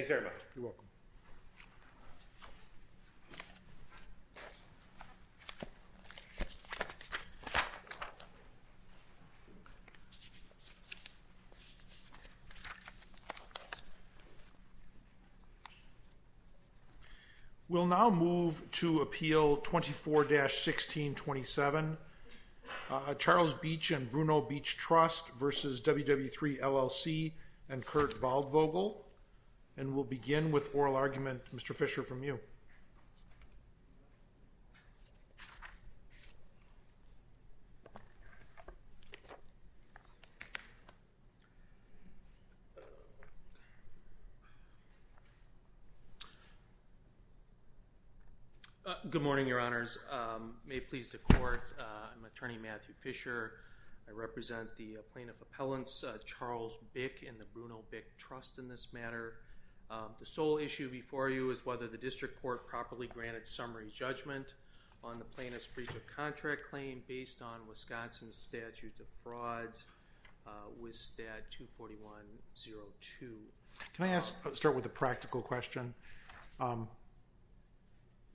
We will now move to Appeal 24-1627, Charles Bich and Bruno Bich Trust v. WW3 LLC and Kurt Waldvogel. And we'll begin with oral argument, Mr. Fischer, from you. Good morning, Your Honors. May it please the Court, I'm Attorney Matthew Fischer. I represent the Plaintiff Appellants, Charles Bich and the Bruno Bich Trust in this matter. The sole issue before you is whether the District Court properly granted summary judgment on the plaintiff's breach of contract claim based on Wisconsin's statute of frauds, WIS Stat 24102. Can I start with a practical question?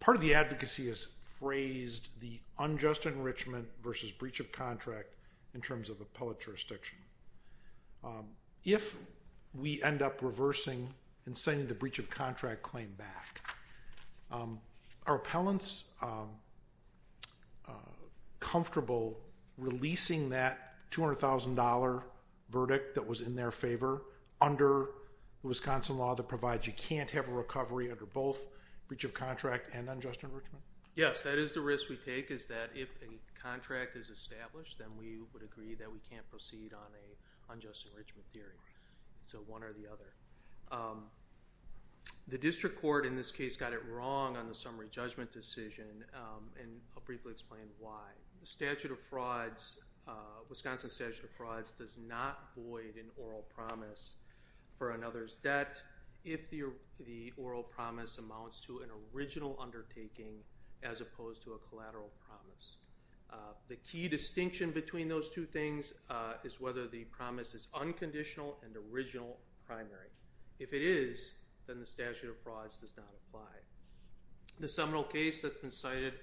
Part of the advocacy has phrased the unjust enrichment versus breach of contract in terms of appellate jurisdiction. If we end up reversing and sending the breach of contract claim back, are appellants comfortable releasing that $200,000 verdict that was in their favor under the Wisconsin law that provides you can't have a recovery under both breach of contract and unjust enrichment? Yes, that is the risk we take, is that if a contract is established, then we would agree that we can't proceed on an unjust enrichment theory. It's a one or the other. The District Court in this case got it wrong on the summary judgment decision, and I'll briefly explain why. The statute of frauds, Wisconsin statute of frauds, does not void an oral promise for another's debt if the oral promise amounts to an original undertaking as opposed to a collateral promise. The key distinction between those two things is whether the promise is unconditional and original primary. If it is, then the statute of frauds does not apply. The seminal case that's been cited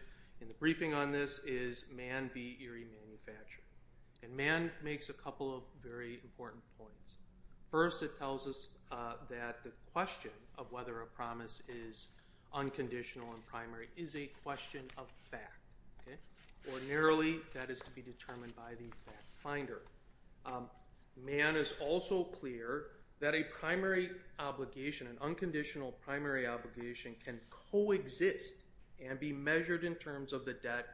in the briefing on this is Mann v. Erie Manufacturing, and Mann makes a couple of very important points. First, it tells us that the question of whether a promise is unconditional and primary is a question of fact. Ordinarily, that is to be determined by the fact finder. Mann is also clear that a primary obligation, an unconditional primary obligation, can coexist and be measured in terms of the debt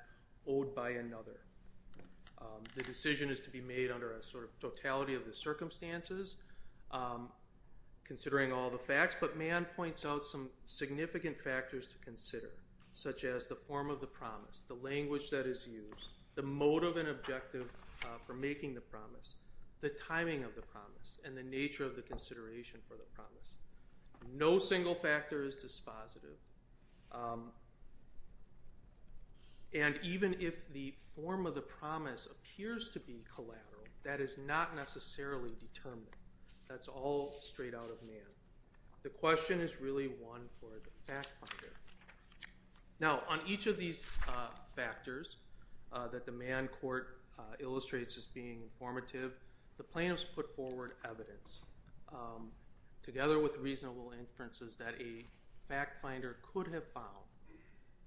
owed by another. The decision is to be made under a sort of totality of the circumstances, considering all the facts, but Mann points out some significant factors to consider, such as the form of the promise, the language that is used, the motive and objective for making the promise, the timing of the promise, and the nature of the consideration for the promise. No single factor is dispositive. And even if the form of the promise appears to be collateral, that is not necessarily determined. That's all straight out of Mann. The question is really one for the fact finder. Now, on each of these factors that the Mann court illustrates as being informative, the plaintiffs put forward evidence, together with reasonable inferences, that a fact finder could have found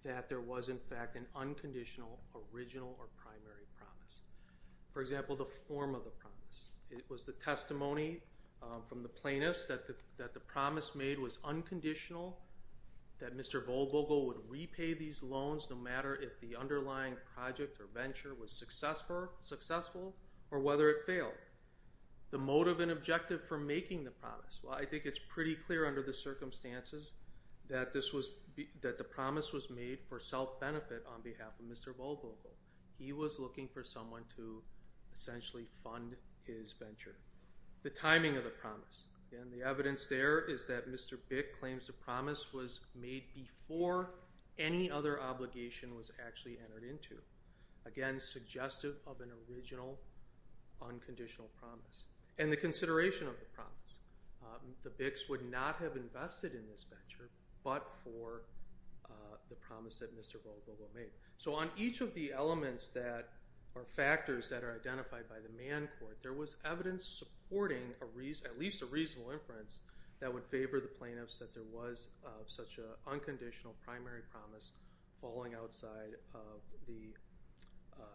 that there was, in fact, an unconditional original or primary promise. For example, the form of the promise. It was the testimony from the plaintiffs that the promise made was unconditional, that Mr. Volvogel would repay these loans no matter if the underlying project or venture was successful or whether it failed. The motive and objective for making the promise. Well, I think it's pretty clear under the circumstances that the promise was made for self-benefit on behalf of Mr. Volvogel. He was looking for someone to essentially fund his venture. The timing of the promise. And the evidence there is that Mr. Bick claims the promise was made before any other obligation was actually entered into. Again, suggestive of an original unconditional promise. And the consideration of the promise. The Bicks would not have invested in this venture but for the promise that Mr. Volvogel made. So on each of the elements that are factors that are identified by the Mann court, there was evidence supporting at least a reasonable inference that would favor the plaintiffs that there was such an unconditional primary promise falling outside the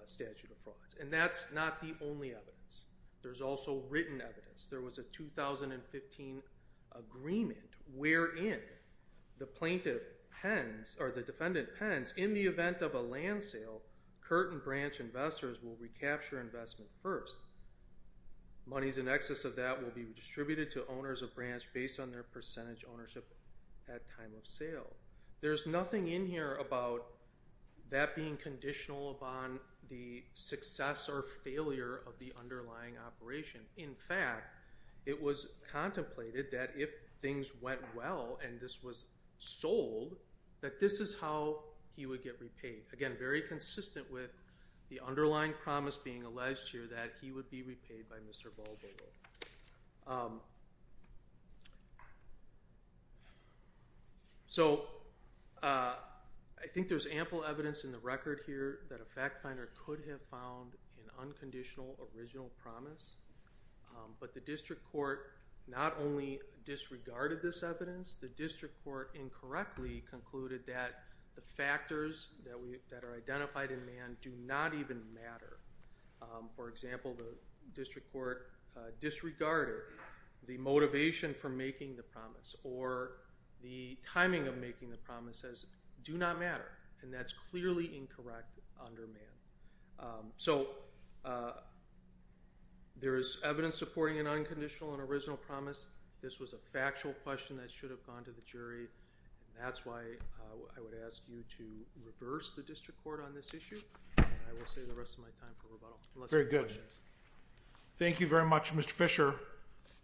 statute of frauds. And that's not the only evidence. There's also written evidence. There was a 2015 agreement wherein the plaintiff pens or the defendant pens in the event of a land sale, Curtin Branch investors will recapture investment first. Monies in excess of that will be distributed to owners of branch based on their percentage ownership at time of sale. There's nothing in here about that being conditional upon the success or failure of the underlying operation. In fact, it was contemplated that if things went well and this was sold, that this is how he would get repaid. Again, very consistent with the underlying promise being alleged here that he would be repaid by Mr. Volvogel. So I think there's ample evidence in the record here that a fact finder could have found an unconditional original promise. But the district court not only disregarded this evidence, the district court incorrectly concluded that the factors that are identified in Mann do not even matter. For example, the district court disregarded the motivation for making the promise or the timing of making the promise as do not matter. And that's clearly incorrect under Mann. So there is evidence supporting an unconditional and original promise. This was a factual question that should have gone to the jury. And that's why I would ask you to reverse the district court on this issue. I will say the rest of my time for rebuttal. Very good. Thank you very much, Mr. Fisher.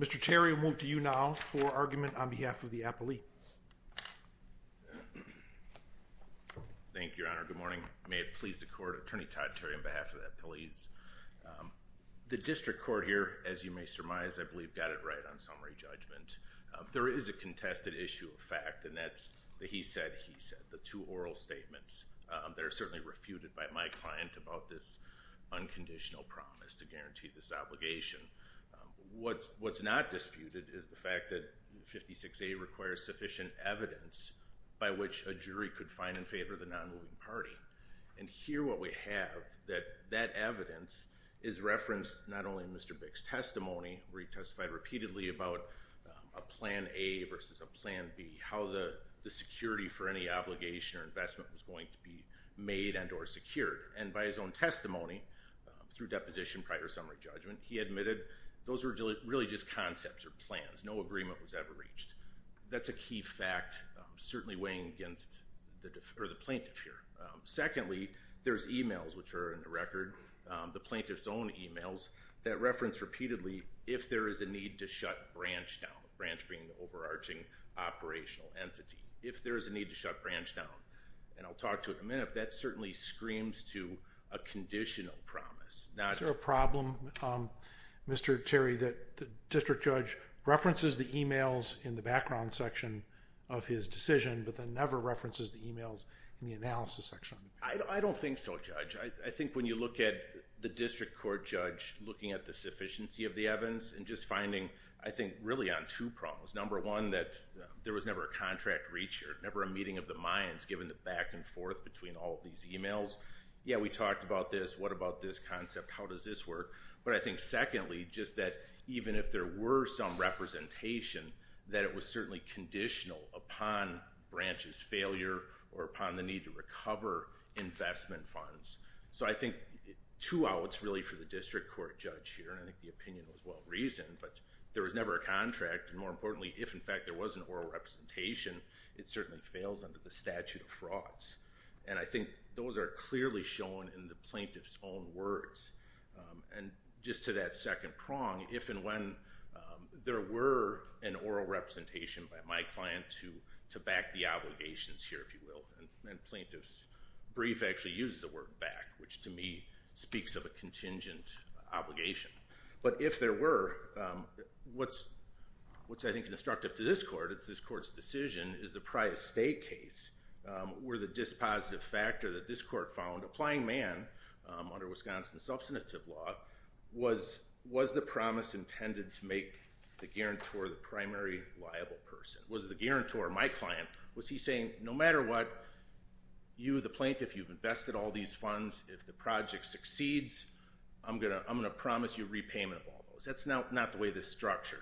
Mr. Terry will move to you now for argument on behalf of the appellee. Thank you, Your Honor. Good morning. May it please the court. Attorney Todd Terry on behalf of the appellees. The district court here, as you may surmise, I believe got it right on summary judgment. There is a contested issue of fact, and that's the he said, he said. The two oral statements that are certainly refuted by my client about this unconditional promise to guarantee this obligation. What's not disputed is the fact that 56A requires sufficient evidence by which a jury could find in favor of the nonmoving party. And here what we have that that evidence is referenced not only in Mr. Bix testimony, retestified repeatedly about a plan A versus a plan B, how the security for any obligation or investment was going to be made and or secured. And by his own testimony through deposition prior summary judgment, he admitted those were really just concepts or plans. No agreement was ever reached. That's a key fact, certainly weighing against the plaintiff here. Secondly, there's emails which are in the record. The plaintiff's own emails that reference repeatedly if there is a need to shut branch down. Branch being the overarching operational entity. If there is a need to shut branch down and I'll talk to it a minute, that certainly screams to a conditional promise, not a problem. Mr. Terry that the district judge references the emails in the background section of his decision, but then never references the emails in the analysis section. I don't think so, Judge. I think when you look at the district court judge looking at the sufficiency of the evidence and just finding, I think, really on two problems. Number one, that there was never a contract reached or never a meeting of the minds given the back and forth between all these emails. Yeah, we talked about this. What about this concept? How does this work? But I think secondly, just that even if there were some representation, that it was certainly conditional upon branches failure or upon the need to recover investment funds. So I think two outs really for the district court judge here and I think the opinion was well-reasoned, but there was never a contract and more importantly, if in fact there was an oral representation, it certainly fails under the statute of frauds. And I think those are clearly shown in the plaintiff's own words. And just to that second prong, if and when there were an oral representation by my client to back the obligations here, if you will, and plaintiffs brief actually used the word back, which to me speaks of a contingent obligation. But if there were, what's I think instructive to this court, it's this court's decision, is the Prius State case where the dispositive factor that this court found applying man under Wisconsin substantive law was the promise intended to make the guarantor the primary liable person. Was the guarantor, my client, was he saying no matter what, you the plaintiff, you've invested all these funds, if the project succeeds, I'm going to promise you repayment of all those. That's not the way this structured.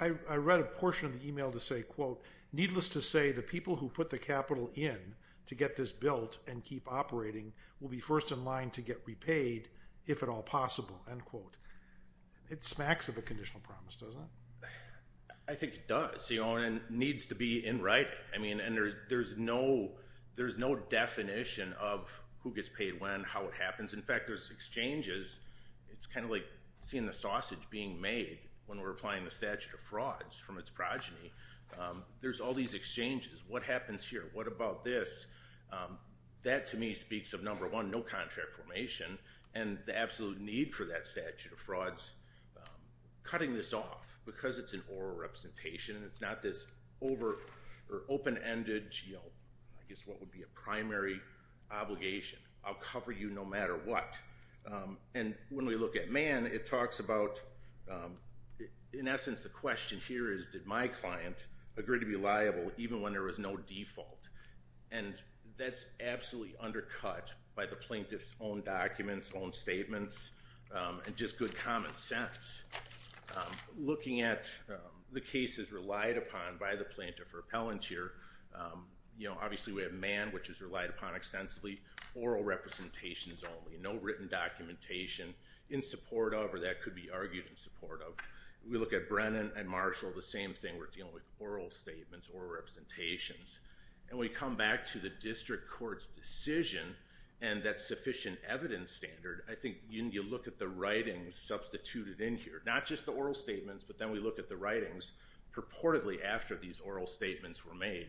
I read a portion of the email to say, quote, needless to say the people who put the capital in to get this built and keep operating will be first in line to get repaid if at all possible, end quote. It smacks of a conditional promise, doesn't it? I think it does. You know, and it needs to be in writing. I mean, and there's no definition of who gets paid when, how it happens. In fact, there's exchanges. It's kind of like seeing the sausage being made when we're applying the statute of frauds from its progeny. There's all these exchanges. What happens here? What about this? That to me speaks of number one, no contract formation and the absolute need for that statute of frauds. Cutting this off because it's an oral representation. It's not this over or open-ended, you know, I guess what would be a primary obligation. I'll cover you no matter what. And when we look at man, it talks about, in essence, the question here is did my client agree to be liable even when there was no default? And that's absolutely undercut by the plaintiff's own documents, own statements, and just good common sense. Looking at the cases relied upon by the plaintiff or appellant here, you know, obviously we have man, which is relied upon extensively, oral representations only. No written documentation in support of, or that could be argued in support of. We look at Brennan and Marshall, the same thing. We're dealing with oral statements or representations. And when we come back to the district court's decision and that sufficient evidence standard, I think you look at the writings substituted in here. Not just the oral statements, but then we look at the writings purportedly after these oral statements were made.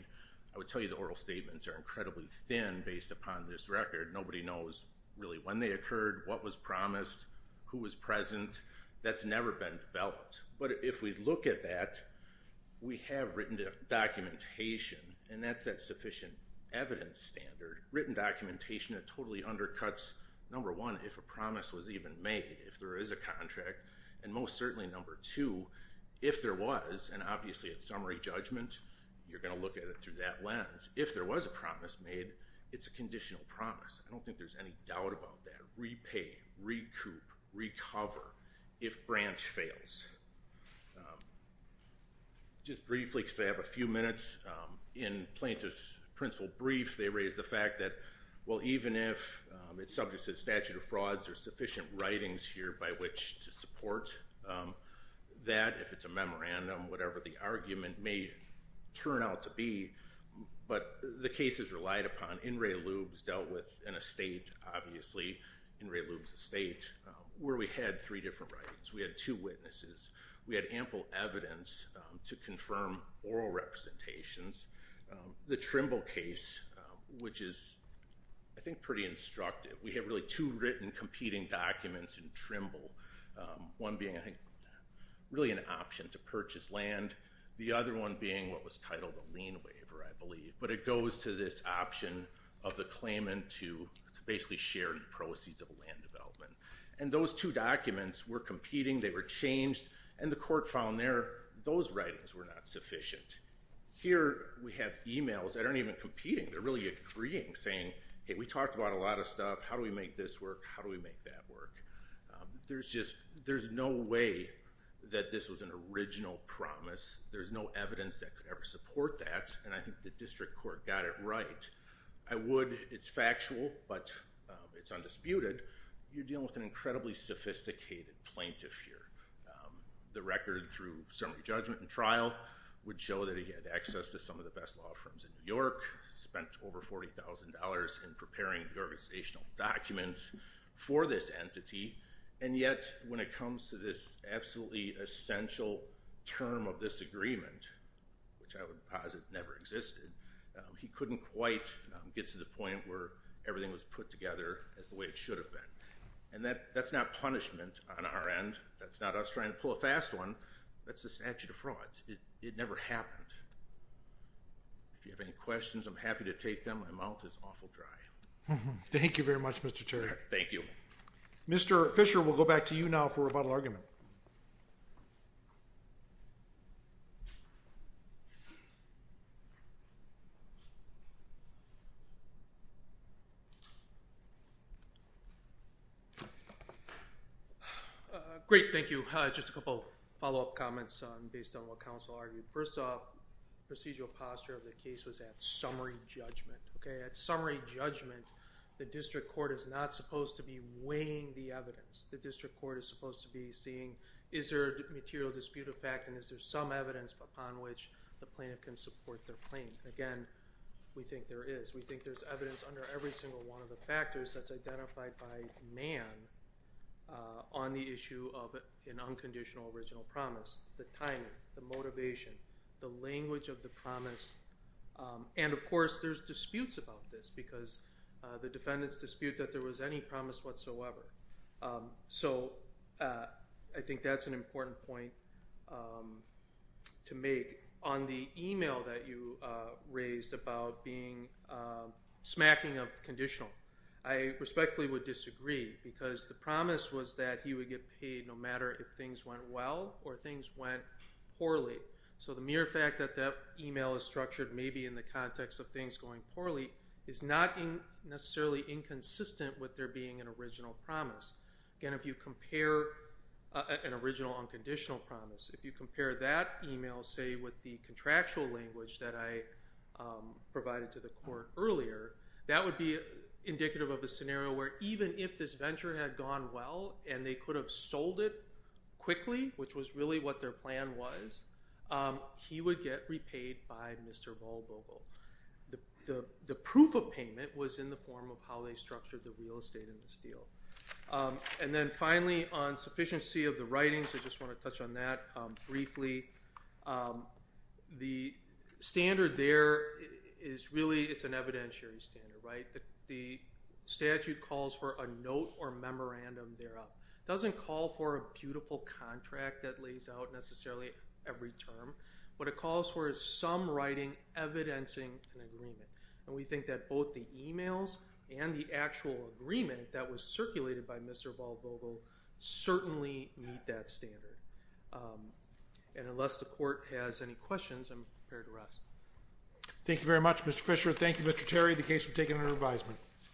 I would tell you the oral statements are incredibly thin based upon this record. Nobody knows really when they occurred, what was promised, who was present. That's never been developed. But if we look at that, we have written documentation, and that's that sufficient evidence standard. Written documentation that totally undercuts, number one, if a promise was even made, if there is a contract. And most certainly, number two, if there was, and obviously it's summary judgment, you're going to look at it through that lens. If there was a promise made, it's a conditional promise. I don't think there's any doubt about that. Repay, recoup, recover if branch fails. Just briefly, because I have a few minutes, in Plaintiff's principle brief, they raise the fact that, well, even if it's subject to the statute of frauds, there's sufficient writings here by which to support that. If it's a memorandum, whatever the argument may turn out to be, but the case is relied upon. In re lubes dealt with an estate, obviously, in re lubes estate, where we had three different writings. We had two witnesses. We had ample evidence to confirm oral representations. The Trimble case, which is, I think, pretty instructive. We have really two written competing documents in Trimble. One being, I think, really an option to purchase land. The other one being what was titled a lien waiver, I believe. But it goes to this option of the claimant to basically share the proceeds of a land development. And those two documents were competing. They were changed. And the court found those writings were not sufficient. Here, we have emails that aren't even competing. They're really agreeing, saying, hey, we talked about a lien waiver. How do we make this work? How do we make that work? There's no way that this was an original promise. There's no evidence that could ever support that. And I think the district court got it right. I would, it's factual, but it's undisputed. You're dealing with an incredibly sophisticated plaintiff here. The record through summary judgment and trial would show that he had access to some of the best law firms in New York, spent over $40,000 in preparing the organizational documents for this entity. And yet, when it comes to this absolutely essential term of this agreement, which I would posit never existed, he couldn't quite get to the point where everything was put together as the way it should have been. And that's not punishment on our end. That's not us trying to pull a fast one. That's the statute of fraud. It never happened. If you have any questions. Thank you very much, Mr. Chair. Thank you. Mr. Fisher, we'll go back to you now for a rebuttal argument. Great, thank you. Just a couple follow-up comments based on what counsel argued. First off, procedural posture of the case was at summary judgment. Okay, at summary judgment, the district court is not supposed to be weighing the evidence. The district court is supposed to be seeing is there a material dispute of fact and is there some evidence upon which the plaintiff can support their claim. Again, we think there is. We think there's evidence under every single one of the factors that's identified by man on the issue of an unconditional original promise. The timing, the motivation, the language of the promise. And of course, there's disputes about this because the defendants dispute that there was any promise whatsoever. So I think that's an important point to make. On the email that you raised about being smacking of conditional, I respectfully would disagree because the promise was that he would get paid no matter if things went well or things went poorly. So the mere fact that that email is structured maybe in the context of things going poorly is not necessarily inconsistent with there being an original promise. Again, if you compare an original unconditional promise, if you compare that email, say, with the contractual language that I provided to the court earlier, that would be indicative of a scenario where even if this venture had gone well and they could have sold it quickly, which was really what their plan was, he would get repaid by Mr. Volvo. The proof of payment was in the form of how they structured the real estate in this deal. And then finally, on sufficiency of the writings, I just want to touch on that briefly. The standard there is really, it's an evidentiary standard, right? The statute calls for a note or memorandum thereof. It doesn't call for a beautiful contract that lays out necessarily every term. What it calls for is some writing evidencing an agreement. And we think that both the emails and the actual agreement that was circulated by Mr. Volvo certainly meet that standard. And unless the court has any questions, I'm prepared to rest. Thank you very much, Mr. Fisher. Thank you, Mr. Terry, the case was taken under advisement.